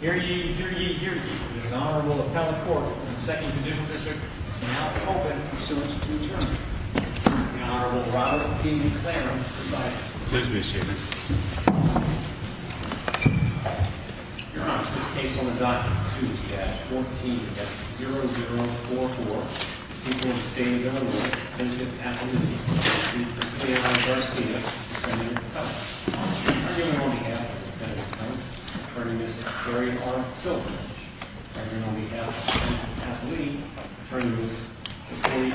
here you hear D. A horrible honorable brother Claren please be seated. Your hon governor. Yeah, Stay with miss Gary horn silver. Y Mhm.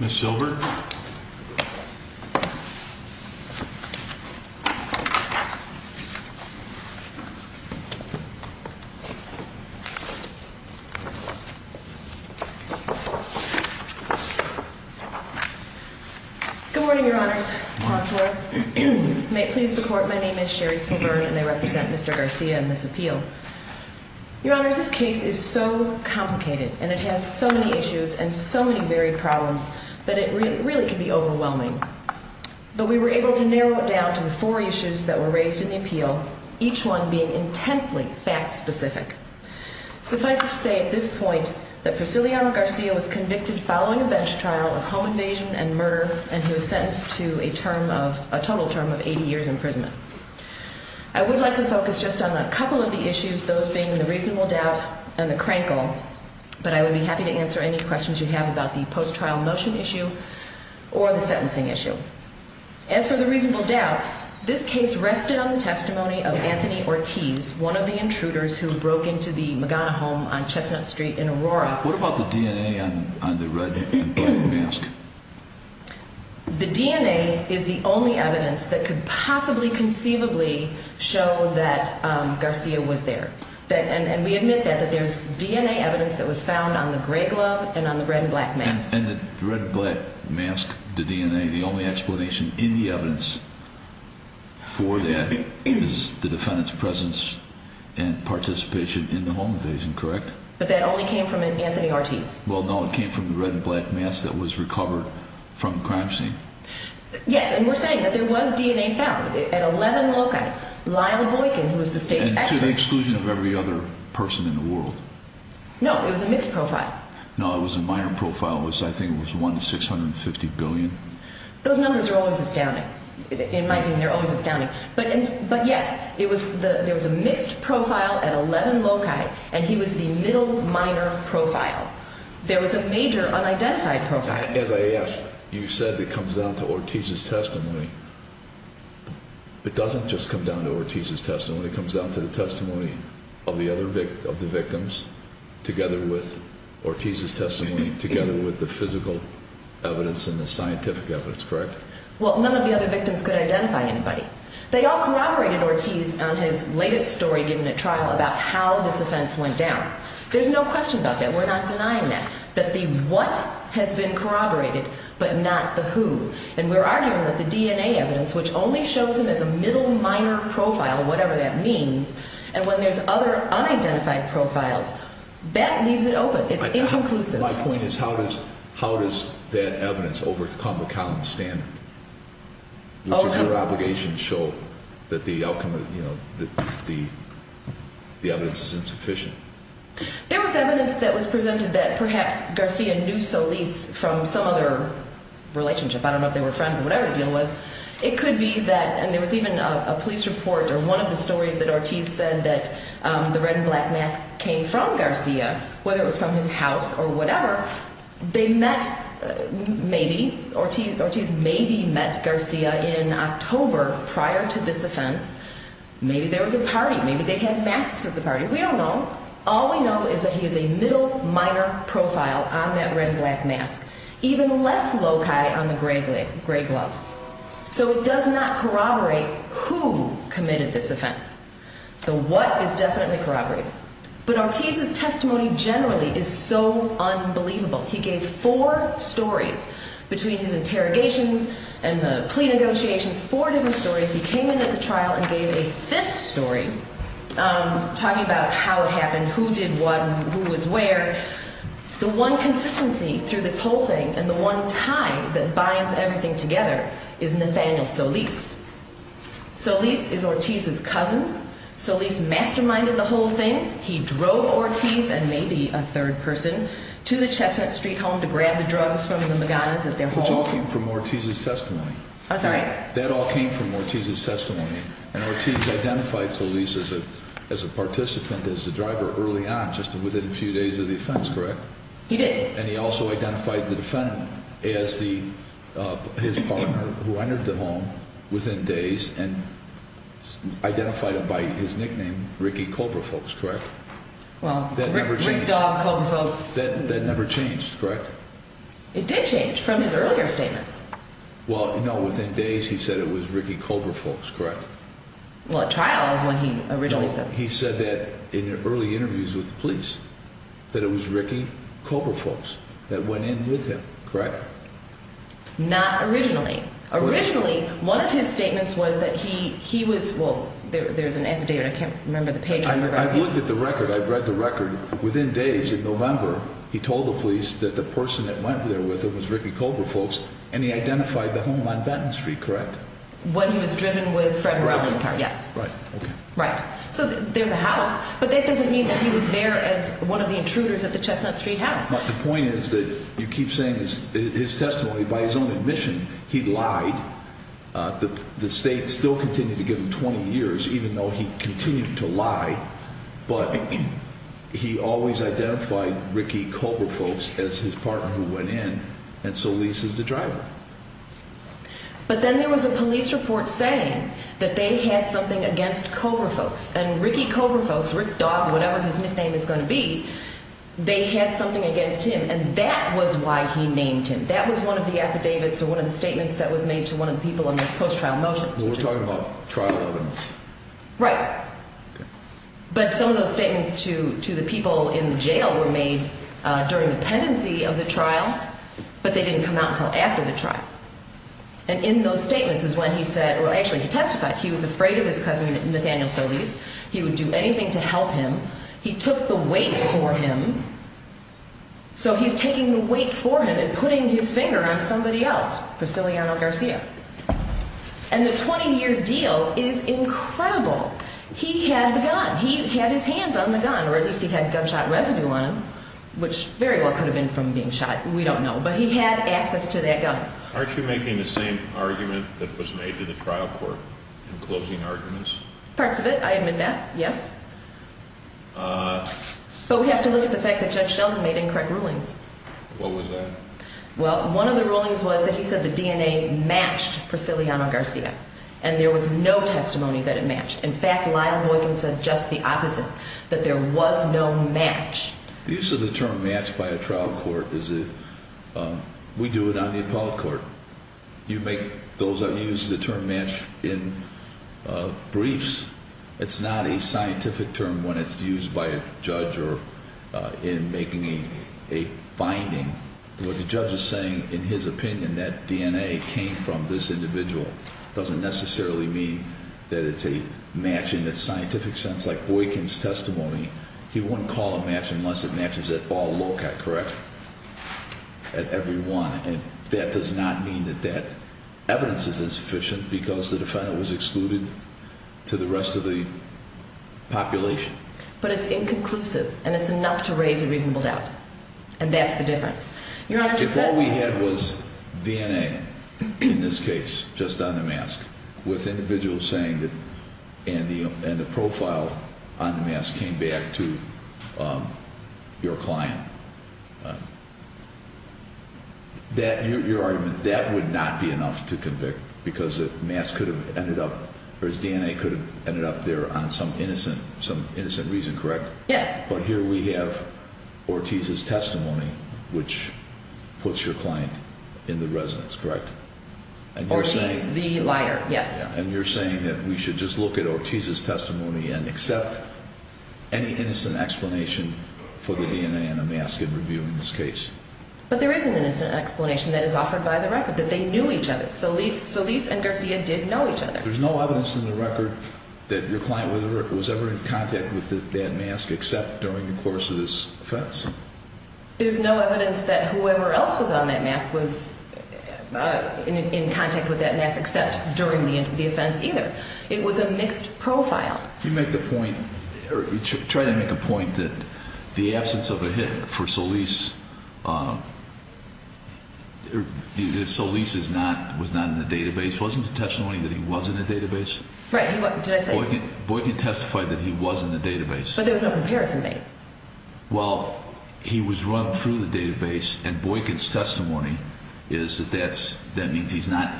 miss silver. Mhm Yes. Good morning. Your honors may please record. My name is sheri silver and I represent Mr Garcia in this appeal. Your honor, this case is so complicated and it has so many issues and so many very problems that it really can be overwhelming. But we were able to narrow it down to the four issues that were raised in the appeal, each one being intensely fact specific. Suffice it to say at this point that Priscilla Garcia was convicted following a bench trial of home invasion and murder and he was I would like to focus just on a couple of the issues, those being the reasonable doubt and the crankle. But I would be happy to answer any questions you have about the post trial motion issue or the sentencing issue. As for the reasonable doubt, this case rested on the testimony of Anthony Ortiz, one of the intruders who broke into the Magana home on Chestnut Street in Aurora. What about the DNA on the red mask? The DNA is the only evidence that could possibly conceivably show that Garcia was there. And we admit that that there's DNA evidence that was found on the gray glove and on the red and black mask and the red and black mask. The DNA. The only explanation in the evidence for that is the defendant's presence and participation in the home invasion. Correct. But that only came from Anthony Ortiz. Well, no, it came from the red black mass that was recovered from crime scene. Yes. And we're saying that there was DNA found at 11 locate Lyle Boykin, who was the state's exclusion of every other person in the world. No, it was a mixed profile. No, it was a minor profile was I think it was 1 650 billion. Those numbers are always astounding. It might mean they're always astounding. But but yes, it was there was a mixed profile at 11 loci and he was the middle minor profile. There was a major unidentified profile. As I asked, you said that comes down to Ortiz's testimony. It doesn't just come down to Ortiz's testimony comes down to the testimony of the other of the victims together with Ortiz's testimony together with the physical evidence in the scientific evidence. Correct. Well, none of the other victims could identify anybody. They all corroborated Ortiz on his latest story given a trial about how this offense went down. There's no question about that. We're not denying that, that the what has been corroborated, but not the who. And we're arguing that the DNA evidence, which only shows him as a middle minor profile, whatever that means. And when there's other unidentified profiles, that leaves it open. It's inconclusive. My point is, how does how does that evidence overcome the common standard? Your obligation show that the outcome of the evidence is insufficient. There was evidence that was presented that perhaps Garcia knew Solis from some other relationship. I don't know if they were friends or whatever the deal was. It could be that and there was even a police report or one of the stories that Ortiz said that the red and black mask came from Garcia, whether it was from his house or whatever they met. Maybe Ortiz maybe met Garcia in October prior to this offense. Maybe there was a party. Maybe they had masks of the is a middle minor profile on that red and black mask, even less loci on the gravely gray glove. So it does not corroborate who committed this offense. The what is definitely corroborated. But Ortiz's testimony generally is so unbelievable. He gave four stories between his interrogations and the plea negotiations. Four different stories. He came in at the trial and gave a fifth story. Um, talking about how it happened, who did what and who was where the one consistency through this whole thing. And the one time that binds everything together is Nathaniel Solis. Solis is Ortiz's cousin. Solis masterminded the whole thing. He drove Ortiz and maybe a third person to the Chestnut Street home to grab the drugs from the Magana's at their home for Ortiz's testimony. That all came from Ortiz's testimony. And Ortiz identified Solis as a participant as the driver early on, just within a few days of the offense. Correct. He did. And he also identified the defendant as the his partner who entered the home within days and identified him by his nickname. Ricky Cobra folks. Correct. Well, that never changed. That never Well, you know, within days, he said it was Ricky Cobra folks. Correct. Well, at trials, when he originally said he said that in early interviews with the police that it was Ricky Cobra folks that went in with him. Correct. Not originally. Originally, one of his statements was that he he was well, there's an evident. I can't remember the page. I looked at the record. I read the record within days in November. He told the police that the person that went there with it was Ricky Cobra folks, and he identified the home on Benton Street. Correct. When he was driven with Fred. Yes, right. Right. So there's a house, but that doesn't mean that he was there as one of the intruders at the Chestnut Street house. The point is that you keep saying his testimony by his own admission. He lied. The state still continued to give him 20 years, even though he continued to lie. But he always identified Ricky Cobra folks as his partner who went in. And so Lisa's the driver. But then there was a police report saying that they had something against Cobra folks and Ricky Cobra folks, Rick Dog, whatever his nickname is going to be. They had something against him, and that was why he named him. That was one of the affidavits or one of the statements that was made to one of the people in this post trial motions. We're talking about trial evidence, right? But some of those statements to to the people in the jail were made during the pendency of the trial, but they didn't come out until after the trial. And in those statements is when he said, Well, actually, he testified he was afraid of his cousin Nathaniel. So these he would do anything to help him. He took the weight for him, so he's taking the weight for him and putting his finger on somebody else. Priscilliano Garcia. And the 20 year deal is incredible. He had the gun. He had his hands on the gun, or at least he had gunshot residue on him, which very well could have been from being shot. We don't know, but he had access to that gun. Aren't you making the same argument that was made to the trial court in closing arguments? Parts of it. I admit that. Yes. Uh, but we have to look at the fact that Judge Sheldon made incorrect rulings. What was that? Well, one of the rulings was that he said the DNA matched Priscilliano Garcia, and there was no testimony that it matched. In fact, Lyle Boykin said just the opposite, that there was no match. The use of the term matched by a trial court is that we do it on the appellate court. You make those are used the term match in, uh, briefs. It's not a finding. The judge is saying, in his opinion, that DNA came from this individual doesn't necessarily mean that it's a match in its scientific sense, like Boykin's testimony. He wouldn't call a match unless it matches that ball. Look at correct at everyone. And that does not mean that that evidence is insufficient because the defendant was excluded to the rest of the population. But it's and that's the difference. You know, all we had was DNA in this case, just on the mask with individuals saying that and the and the profile on the mask came back to, um, your client that your argument that would not be enough to convict because the mass could have ended up. There's DNA could have ended up there on some innocent, some innocent reason, correct? But here we have Ortiz's testimony, which puts your client in the residence, correct? And he's the liar. Yes. And you're saying that we should just look at Ortiz's testimony and accept any innocent explanation for the DNA and a mask and review in this case. But there is an innocent explanation that is offered by the record that they knew each other. So leave. So Lisa and Garcia did know each other. There's no evidence in the record that your client was ever in contact with that mask, except during the course of this offense. There's no evidence that whoever else was on that mask was in contact with that mass, except during the defense, either. It was a mixed profile. You make the point, try to make a point that the absence of a hit for Solis, uh, the Solis is not was not in the database. Wasn't the testimony that he wasn't a database. Boy can testify that he wasn't a database. But there's no comparison. Well, he was run through the database and boy kids. Testimony is that that's that means he's not.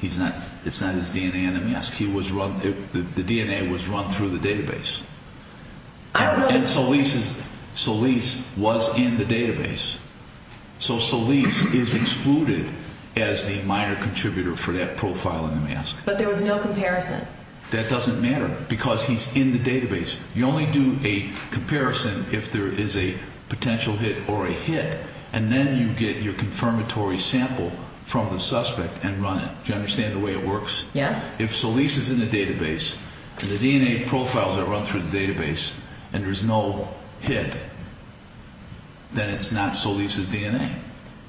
He's not. It's not his DNA in the mask. He was run. The DNA was run through the database. And so Lisa's Solis was in the database. So Solis is excluded as the minor no comparison. That doesn't matter because he's in the database. You only do a comparison if there is a potential hit or a hit, and then you get your confirmatory sample from the suspect and run it. Do you understand the way it works? Yes. If Solis is in the database, the DNA profiles are run through the database and there's no hit, then it's not. So Lisa's DNA.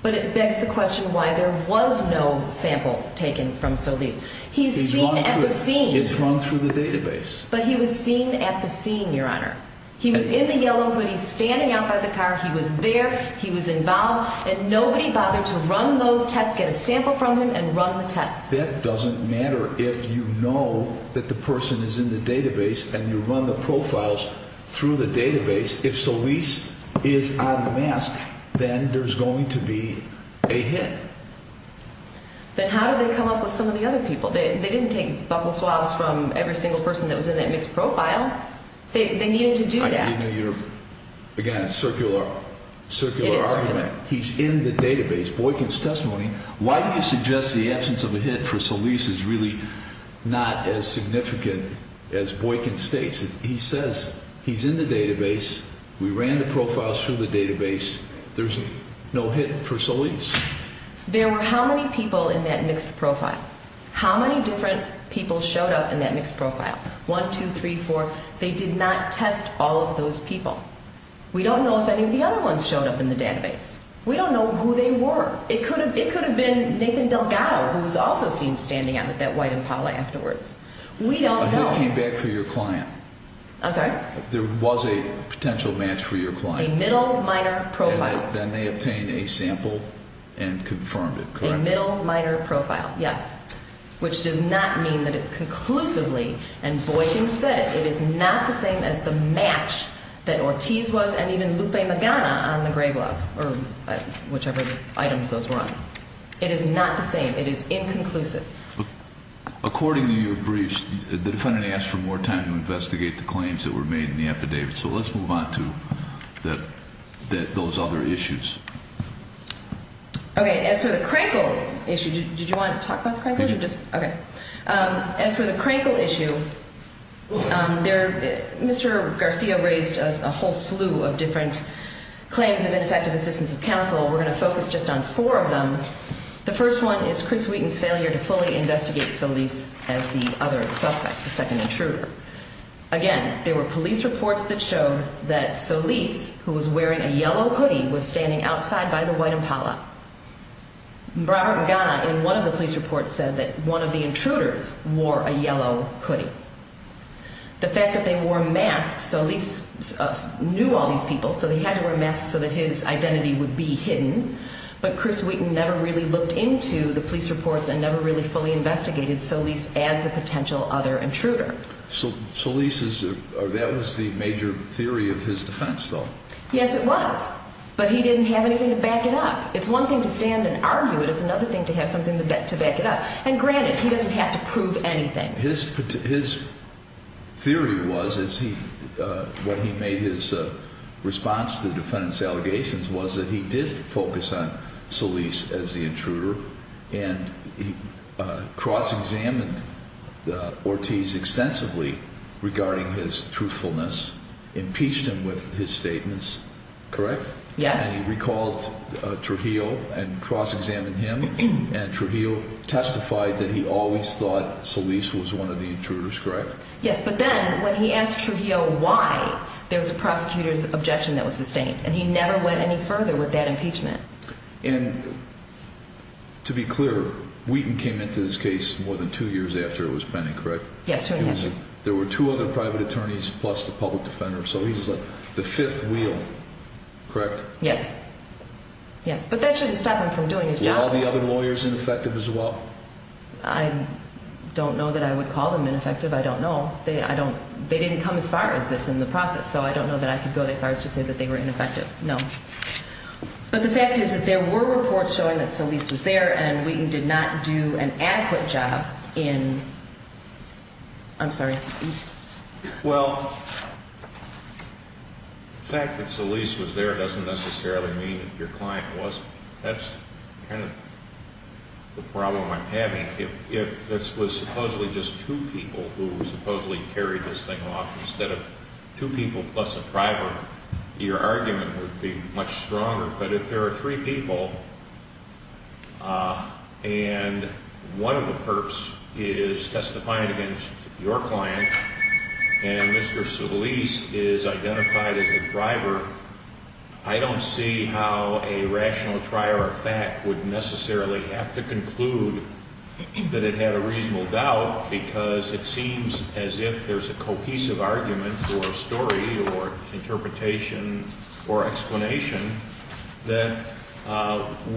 But it begs the question why there was no sample taken from Solis. He's seen at the scene. It's run through the database, but he was seen at the scene, Your Honor. He was in the yellow hoodies standing out by the car. He was there. He was involved, and nobody bothered to run those tests, get a sample from him and run the test. That doesn't matter. If you know that the person is in the database and you run the profiles through the database. If Solis is on the mask, then there's going to be a hit. But how do they come up with some of the other people? They didn't take buffalo swabs from every single person that was in that mixed profile. They needed to do that. Again, it's circular, circular argument. He's in the database. Boykins testimony. Why do you suggest the absence of a hit for Solis is really not as significant as Boykin states. He says he's in the database. We ran the profiles through the database. There's no hit for Solis. There were how many people in that mixed profile? How many different people showed up in that mixed profile? 1234. They did not test all of those people. We don't know if any of the other ones showed up in the database. We don't know who they were. It could have. It could have been Nathan Delgado, who was also seen standing on that white Impala afterwards. We don't know. Came back for your client. I'm sorry. There was a potential match for your client. Middle minor profile. Then they obtained a sample and confirmed it. A middle minor profile. Yes. Which does not mean that it's conclusively and Boykin said it is not the same as the match that Ortiz was and even Lupe Magana on the gray glove or whichever items those were on. It is not the same. It is inconclusive. According to your briefs, the defendant asked for more time to investigate the claims that were made in the affidavit. So let's move on to that, that those other issues. Okay. As for the Crankle issue, did you want to talk about the crank? Okay. As for the Crankle issue there, Mr Garcia raised a whole slew of different claims of ineffective assistance of counsel. We're gonna focus just on four of them. The first one is Chris Wheaton's failure to fully investigate Solis as the other suspect, the second intruder. Again, there were police reports that showed that Solis, who was wearing a yellow hoodie, was standing outside by the white Impala. Robert Magana in one of the police reports said that one of the intruders wore a yellow hoodie. The fact that they wore masks, Solis knew all these people, so they had to wear masks so that his identity would be hidden. But Chris Wheaton never really looked into the police reports and never really fully investigated Solis as the potential other intruder. So Solis is that was the major theory of his defense, though. Yes, it was. But he didn't have anything to back it up. It's one thing to stand and argue. It is another thing to have something to back it up. And granted, he doesn't have to prove anything. His his theory was, is he what he made his response to the defendant's allegations was that he did focus on Solis as the intruder, and he cross examined Ortiz extensively regarding his truthfulness, impeached him with his statements. Correct? Yes. He recalled Trujillo and cross examined him. And Trujillo testified that he always thought Solis was one of the intruders. Correct? Yes. But then when he asked Trujillo why there was a prosecutor's objection that was sustained, and he never went any further with that impeachment. And to be clear, Wheaton came into this case more than two years after it was pending. Correct? Yes. There were two other private attorneys plus the public defender. So he's like the fifth wheel. Correct? Yes. Yes. But that shouldn't stop him from doing his job. All the other lawyers ineffective as well. I don't know that I would call them ineffective. I don't know. I don't. They didn't come as far as this in the process, so I don't know that I could go that far to say that they were ineffective. No. But the fact is that there were reports showing that Solis was there, and Wheaton did not do an adequate job in. I'm sorry. Well, fact that Solis was there doesn't necessarily mean your client wasn't. That's kind of the problem I'm having. If this was supposedly just two people who supposedly carried this thing off instead of two people plus a private, your argument would be much stronger. But if there are three people, uh, and one of the perps is testifying against your client and Mr. Solis is identified as a driver, I don't see how a rational trier of fact would necessarily have to conclude that it had a reasonable doubt because it seems as if there's a cohesive argument for a story or interpretation or explanation that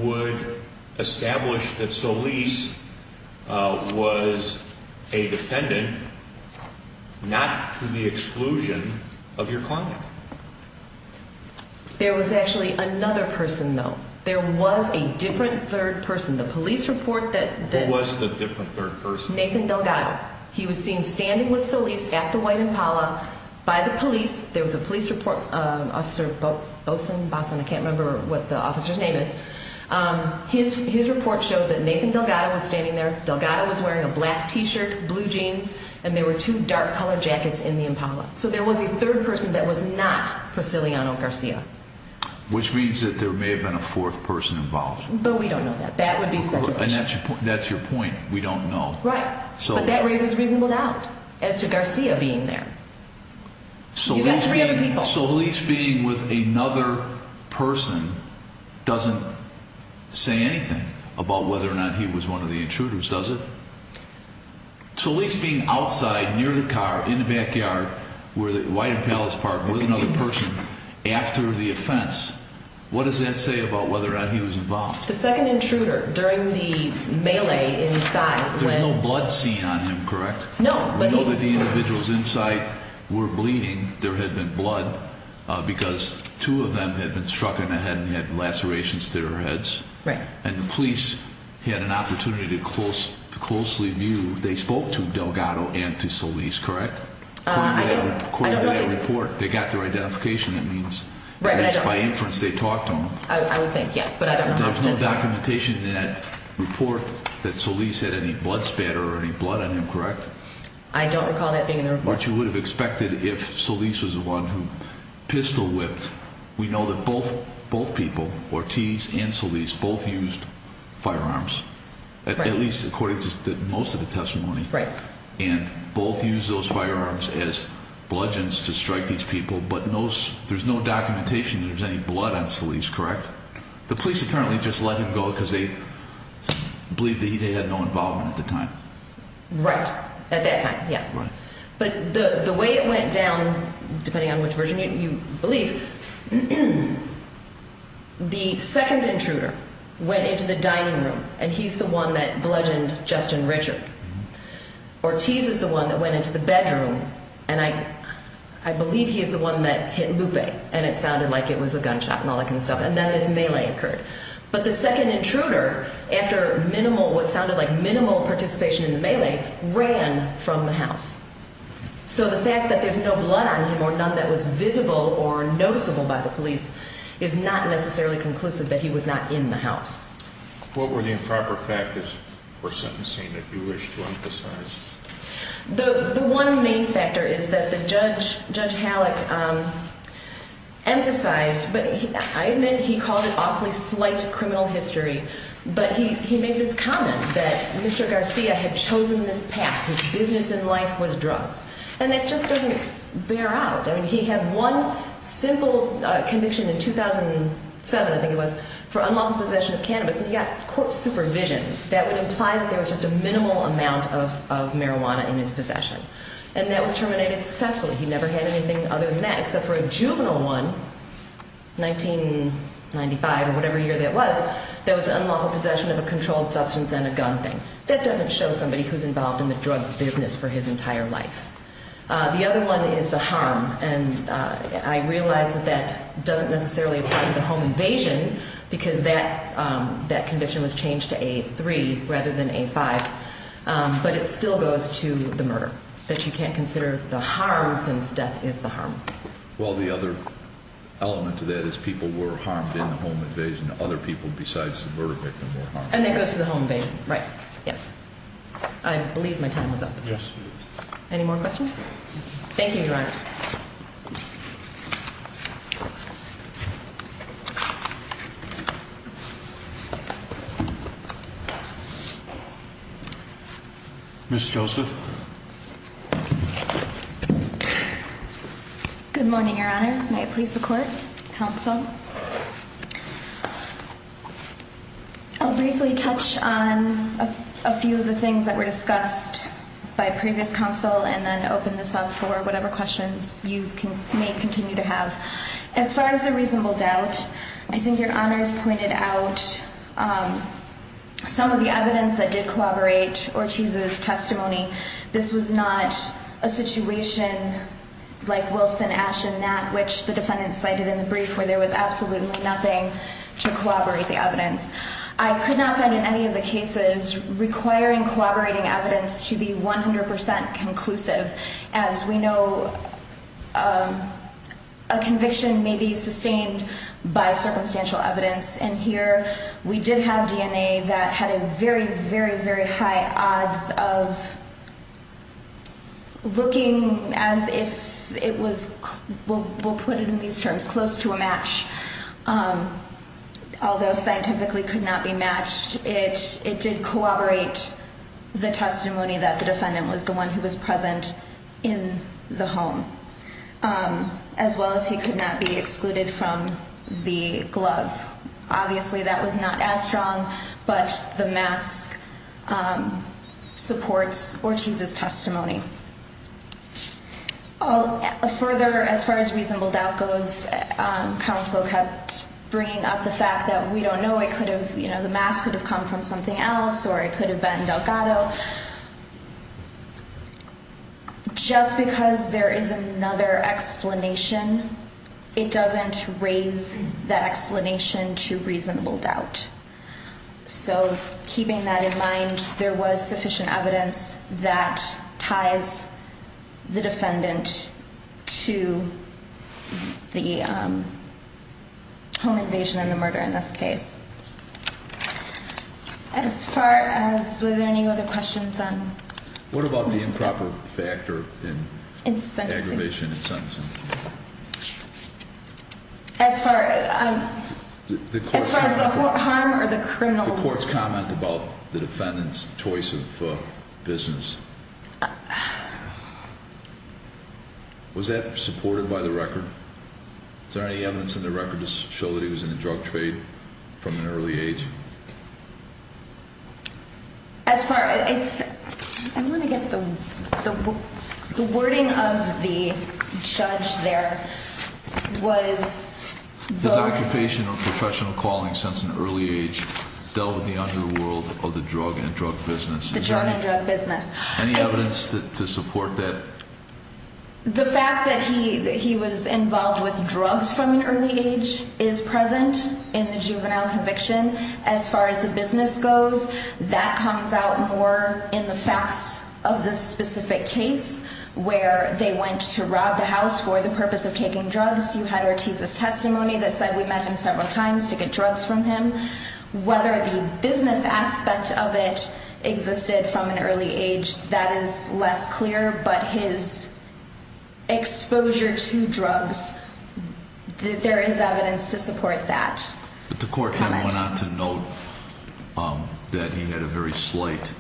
would establish that Solis was a defendant, not to the exclusion of your client. There was actually another person, though. There was a different third person. The police report that was the different third person, Nathan Delgado. He was seen standing with Solis at the White Impala by the police. There was a police report. Officer Boats and Boston. I can't remember what the officer's name is. His report showed that Nathan Delgado was standing there. Delgado was wearing a black T shirt, blue jeans, and there were two dark color jackets in the Impala. So there was a third person that was not Priscilliano Garcia, which means that there may have been a fourth person involved. But we don't know that that would be speculation. That's your point. We don't know. Right. So that raises reasonable doubt as to Garcia being there. So that's really people. So at least being with another person doesn't say anything about whether or not he was one of the intruders, does it? So at least being outside near the car in the backyard where the White Impalas Park with another person after the offense. What does that say about whether or not he was involved? The second intruder during the melee inside with no blood seen on him, correct? No, but the individuals inside were bleeding. There had been blood because two of them had been struck in the head and had lacerations to their heads. Right. And the police had an opportunity to close to closely view. They spoke to Delgado and to Solis, correct? I don't quite report. They got their identification. It means by inference they talked to him. I would think yes, but I don't know. There's no documentation that report that Solis had any blood spatter or any blood on him, correct? I don't recall that being in the report. You would have expected if Solis was the one who pistol whipped. We know that both both people Ortiz and Solis both used firearms, at least according to most of the testimony. Right. And both use those firearms as bludgeons to strike these people. But there's no documentation. There's any blood on Solis, correct? The police apparently just let him go because they believe that he had no involvement at the time. Right at that time. Yes. But the way it went down, depending on which version you believe, the second intruder went into the dining room and he's the one that bludgeoned Justin Richard. Ortiz is the one that went into the bedroom and I hit Lupe and it sounded like it was a gunshot and all that kind of stuff. And then his melee occurred. But the second intruder after minimal what sounded like minimal participation in the melee ran from the house. So the fact that there's no blood on him or none that was visible or noticeable by the police is not necessarily conclusive that he was not in the house. What were the improper factors for sentencing that you wish to emphasize? The one main factor is that the judge, Judge Halleck emphasized, but I admit he called it awfully slight criminal history, but he made this comment that Mr Garcia had chosen this path. His business in life was drugs and that just doesn't bear out. I mean, he had one simple conviction in 2007, I think it was for unlawful possession of cannabis and he got court supervision. That would imply that there was just a minimal amount of marijuana in his possession and that was terminated successfully. He never had anything other than that, except for a juvenile one, 1995 or whatever year that was, that was unlawful possession of a controlled substance and a gun thing. That doesn't show somebody who's involved in the drug business for his entire life. The other one is the harm and I realize that that doesn't necessarily apply to the home invasion because that that conviction was changed to a three rather than a five. But it still goes to the murder that you can't consider the harm since death is the harm. Well, the other element to that is people were harmed in the home invasion. Other people besides the murder victim were and it goes to the home invasion, right? Yes, I believe my time was up. Any more questions? Thank you, Your Honor. Miss Joseph. Good morning, Your Honors. May it please the court, counsel. I'll briefly touch on a few of the things that were discussed by previous counsel and then open this up for whatever questions you can may continue to have. As far as the reasonable doubt, I think your honors pointed out, um, some of the evidence that did collaborate Ortiz's testimony. This was not a situation like Wilson, Ash and Nat, which the defendant cited in the brief where there was absolutely nothing to collaborate the evidence. I could not find in any of the cases requiring collaborating evidence to be 100% conclusive. As we know, um, a conviction may be sustained by a that had a very, very, very high odds of looking as if it was. We'll put it in these terms close to a match. Um, although scientifically could not be matched, it did corroborate the testimony that the defendant was the one who was present in the home. Um, as well as he could not be excluded from the glove. Obviously, that was not as strong, but the mask, um, supports Ortiz's testimony. Oh, further. As far as reasonable doubt goes, um, counsel kept bringing up the fact that we don't know it could have, you know, the mass could have come from something else, or it could have been Delgado. Just because there is another explanation, it doesn't raise that so keeping that in mind, there was sufficient evidence that ties the defendant to the, um, home invasion and the murder in this case. As far as was there any other questions on what about the improper factor? It's aggravation. Yeah. As far as, um, as far as the harm or the criminal court's comment about the defendant's choice of business. Was that supported by the record? Is there any evidence in the record to show that he was in a drug trade from an early age? Yeah. As far as I'm going to get the wording of the judge, there was his occupation of professional calling since an early age dealt with the underworld of the drug and drug business. The drug business. Any evidence to support that? The fact that he was involved with drugs from an early age is present in the juvenile conviction. As far as the business goes, that comes out more in the facts of the specific case where they went to rob the house for the purpose of taking drugs. You had Ortiz's testimony that said we met him several times to get drugs from him. Whether the business aspect of it existed from an early age, that is less clear. But his exposure to drugs, there is evidence to support that. But the court went on to note that he had a very slight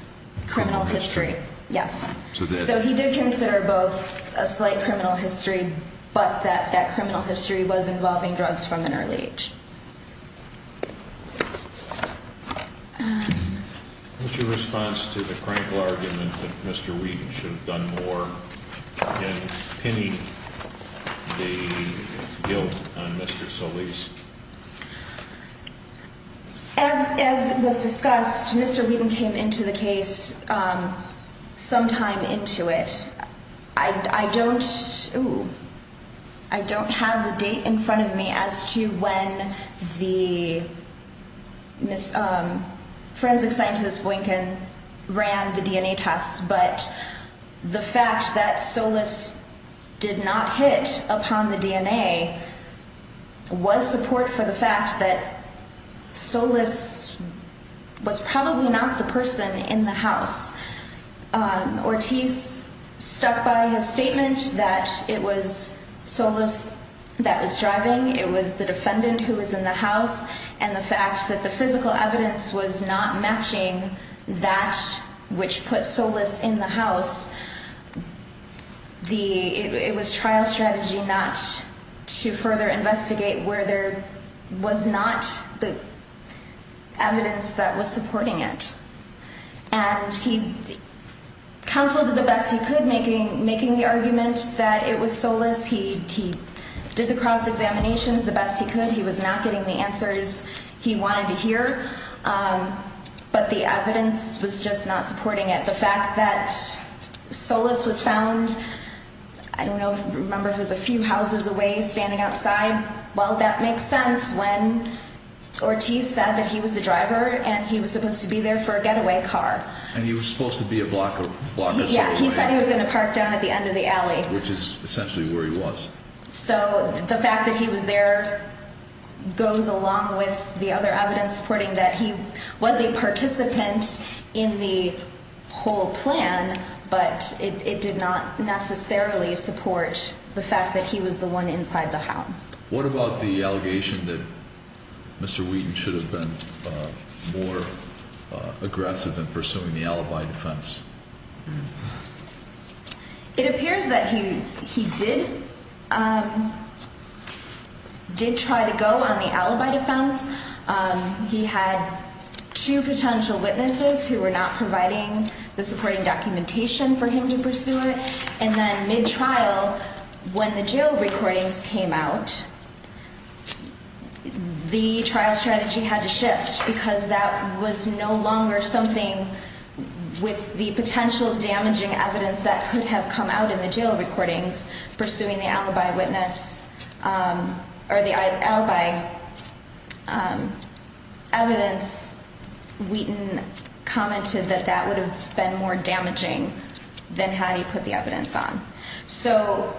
criminal history. Yes. So he did consider both a slight criminal history, but that that criminal history was involving drugs from an early age. What's your response to the critical argument that Mr. Wheaton should have done more in pinning the guilt on Mr. Solis? As it was discussed, Mr. Wheaton came into the case sometime into it. I don't I don't have the date in front of me as to when the Miss Forensic Scientist Boykin ran the DNA tests. But the fact that Solis did not hit upon the DNA was support for the fact that Solis was probably not the person in the house. Ortiz stuck by his statement that it was Solis that was driving. It was the defendant who was in the house and the fact that the physical evidence was not matching that which put Solis in the house. The it was trial strategy not to further investigate where there was not the evidence that was supporting it. And he counseled the best he could, making making the argument that it was Solis. He did the cross examinations the best he could. He was not getting the answers he wanted to hear. But the evidence was not supporting it. The fact that Solis was found, I don't know. Remember, there's a few houses away standing outside. Well, that makes sense when Ortiz said that he was the driver and he was supposed to be there for a getaway car and he was supposed to be a block of block. He said he was gonna park down at the end of the alley, which is essentially where he was. So the fact that he was there goes along with the other evidence supporting that he was a participant in the whole plan, but it did not necessarily support the fact that he was the one inside the house. What about the allegation that Mr Wheaton should have been more aggressive in pursuing the alibi defense? It appears that he he did, um, did try to go on the alibi defense. Um, he had two potential witnesses who were not providing the supporting documentation for him to pursue it. And then mid trial, when the jail recordings came out, the trial strategy had to shift because that was no longer something with the potential damaging evidence that could have come out in the jail recordings pursuing the alibi witness, um, or the alibi, um, evidence. Wheaton commented that that would have been more damaging than how do you put the evidence on? So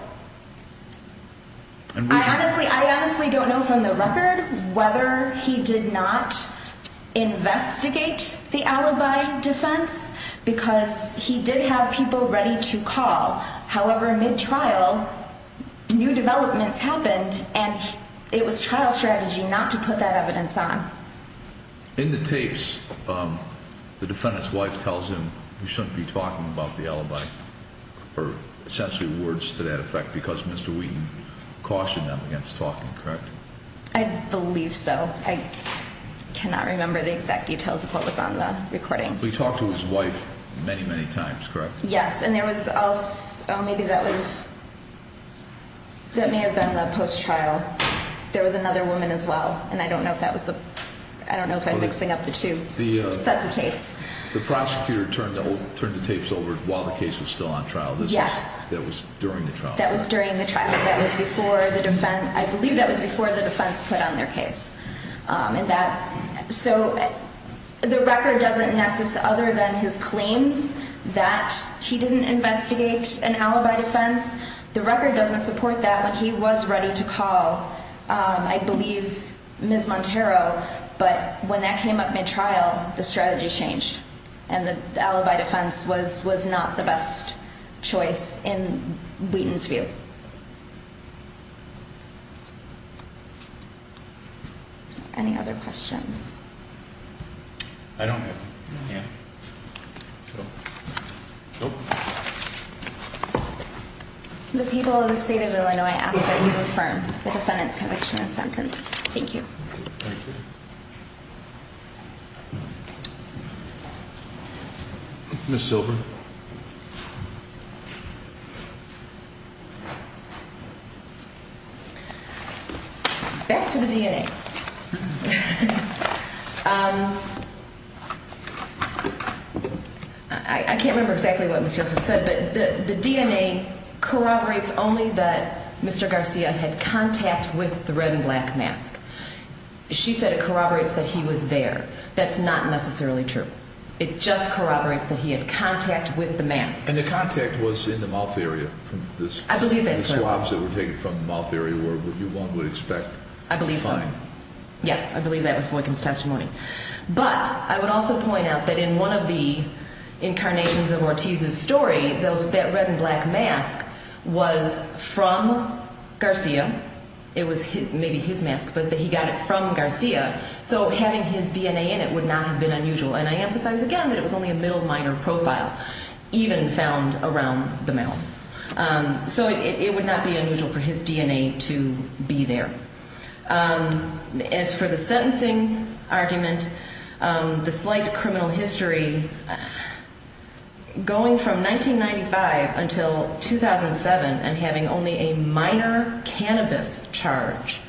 I honestly, I honestly don't know from the record whether he did not investigate the alibi defense because he did have people ready to call. However, mid trial, new developments happened and it was trial strategy not to put that evidence on in the tapes. Um, the defendant's wife tells him you shouldn't be talking about the alibi or essentially words to that effect because Mr Wheaton cautioned them against talking. Correct. I believe so. I cannot remember the exact details of what was on the recordings. We talked to his wife many, many times, correct? Yes. And there was also maybe that was that may have been the post trial. There was another woman as well. And I don't know if that was the, I don't know if I'm mixing up the two sets of tapes. The prosecutor turned turned the tapes over while the case was still on trial. That was during the trial. That was during the trial. That was before the defense. I believe that was before the defense put on their case. Um, and then his claims that he didn't investigate an alibi defense. The record doesn't support that when he was ready to call. Um, I believe Ms Montero. But when that came up mid trial, the strategy changed and the alibi defense was was not the best choice in Wheaton's view. Any other questions? I don't know. Yeah. Okay. The people of the state of Illinois ask that you affirm the defendant's conviction of sentence. Thank you. Miss Silver. Back to the DNA. Um, I can't remember exactly what was just said, but the DNA corroborates only that Mr Garcia had contact with the red and black mask. She said it corroborates that he was there. That's not necessarily true. It just corroborates that he had contact with the mask and the contact was in the mouth area. I believe that swabs that were taken from the mouth area where you one would expect. I believe so. Yes, I believe that was working testimony. But I would also point out that in one of the incarnations of Ortiz's story, those that red and black mask was from Garcia. It was maybe his mask, but he got it from Garcia. So having his DNA and it would not have been unusual. And I emphasize again that it was only a middle minor profile even found around the mouth. Um, so it would not be unusual for his argument. Um, the slight criminal history going from 1995 until 2007 and having only a minor cannabis charge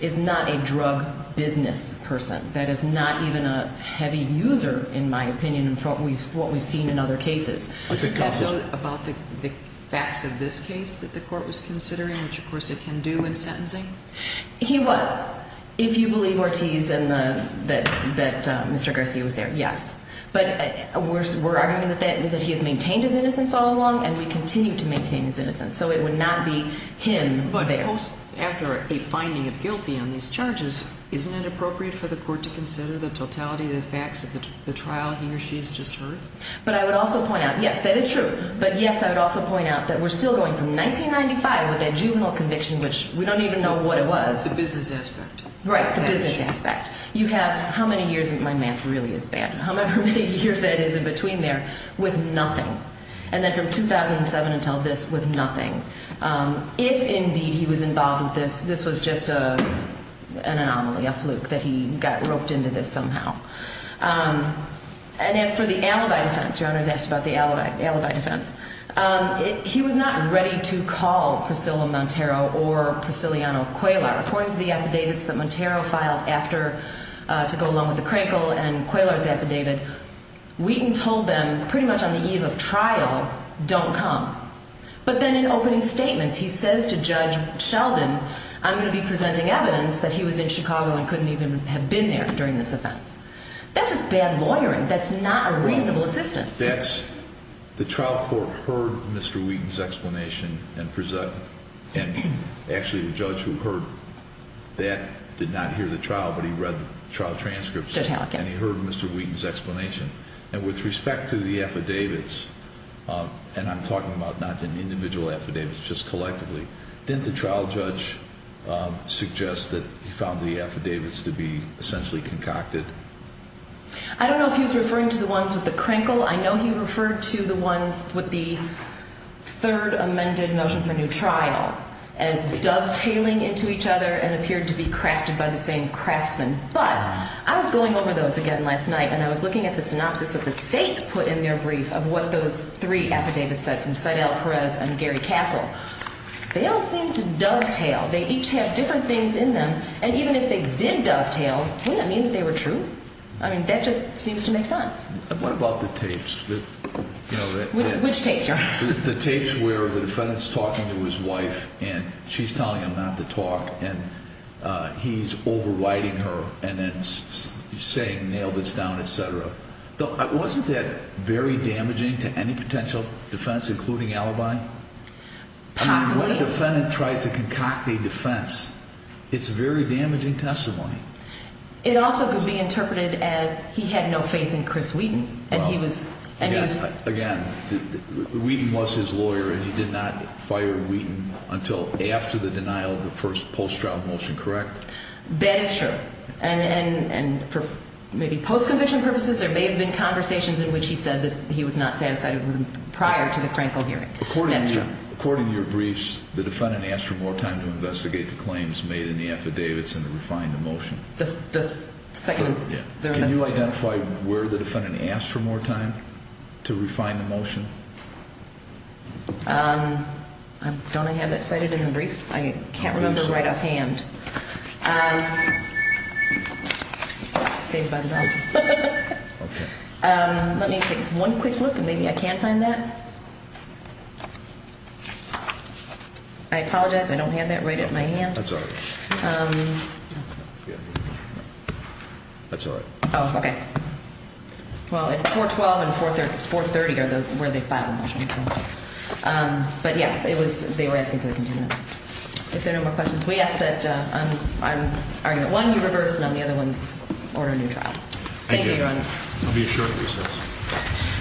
is not a drug business person. That is not even a heavy user, in my opinion, in front of what we've seen in other cases about the facts of this case that the court was considering, which, of course, it can do in sentencing. He was, if you that Mr Garcia was there. Yes, but we're arguing that that he has maintained his innocence all along and we continue to maintain his innocence. So it would not be him. But after a finding of guilty on these charges, isn't it appropriate for the court to consider the totality of the facts of the trial he or she has just heard? But I would also point out. Yes, that is true. But yes, I would also point out that we're still going from 1995 with a juvenile conviction, which we don't even know what it was the business aspect, right? Business aspect. You have how many years? My math really is bad. However many years that is in between there with nothing. And then from 2007 until this with nothing. Um, if indeed he was involved with this, this was just, uh, an anomaly, a fluke that he got roped into this somehow. Um, and as for the alibi defense, your honor's asked about the alibi defense. Um, he was not ready to call Priscilla Montero or Priscilla on a quail are according to the affidavits that Montero filed after to go along with the Crankle and Quailers affidavit. Wheaton told them pretty much on the eve of trial don't come. But then in opening statements, he says to Judge Sheldon, I'm going to be presenting evidence that he was in Chicago and couldn't even have been there during this offense. That's just bad lawyering. That's not a reasonable assistance. That's the trial court heard Mr Wheaton's explanation and actually the judge who heard that did not hear the trial, but he read trial transcripts and he heard Mr Wheaton's explanation. And with respect to the affidavits, uh, and I'm talking about not an individual affidavits, just collectively, didn't the trial judge suggest that he found the affidavits to be essentially concocted? I don't know if he was referring to the ones with the Crankle. I know he referred to the ones with the third amended motion for new trial as dovetailing into each other and appeared to be crafted by the same craftsman. But I was going over those again last night and I was looking at the synopsis of the state put in their brief of what those three affidavits said from Seidel Perez and Gary Castle. They don't seem to dovetail. They each have different things in them. And even if they did dovetail, we don't mean that they were true. I mean, that just seems to make sense. What about the tapes? Which takes the tapes where the defendant's talking to his wife and she's telling him not to talk and he's overriding her and then saying nailed this down, etcetera. Wasn't that very damaging to any potential defense, including alibi? Possibly. When a defendant tries to concoct a defense, it's very damaging testimony. It also could be interpreted as he had no faith in Chris Wheaton and he was again, Wheaton was his lawyer and he did not fire Wheaton until after the denial of the first post trial motion. Correct? That is true. And for maybe post conviction purposes, there may have been conversations in which he said that he was not satisfied with him prior to the crankle hearing. According to your briefs, the defendant asked for more time to investigate the claims made in the affidavits and to refine the motion. The second, can you identify where the defendant asked for more time to refine the motion? Um, don't I have that cited in the brief? I can't remember right off hand. Um, say about that. Okay. Um, let me take one quick look and maybe I can find that. I apologize. I don't have that right at my hand. That's all right. Um, that's all right. Okay. Well, 4 12 and 4 34 30 are where they filed. Um, but yeah, it was, they were asking for the continuity. If there are no more questions, we ask that I'm arguing one reverse and on the other ones order neutral. Thank you. I'll be a short recess.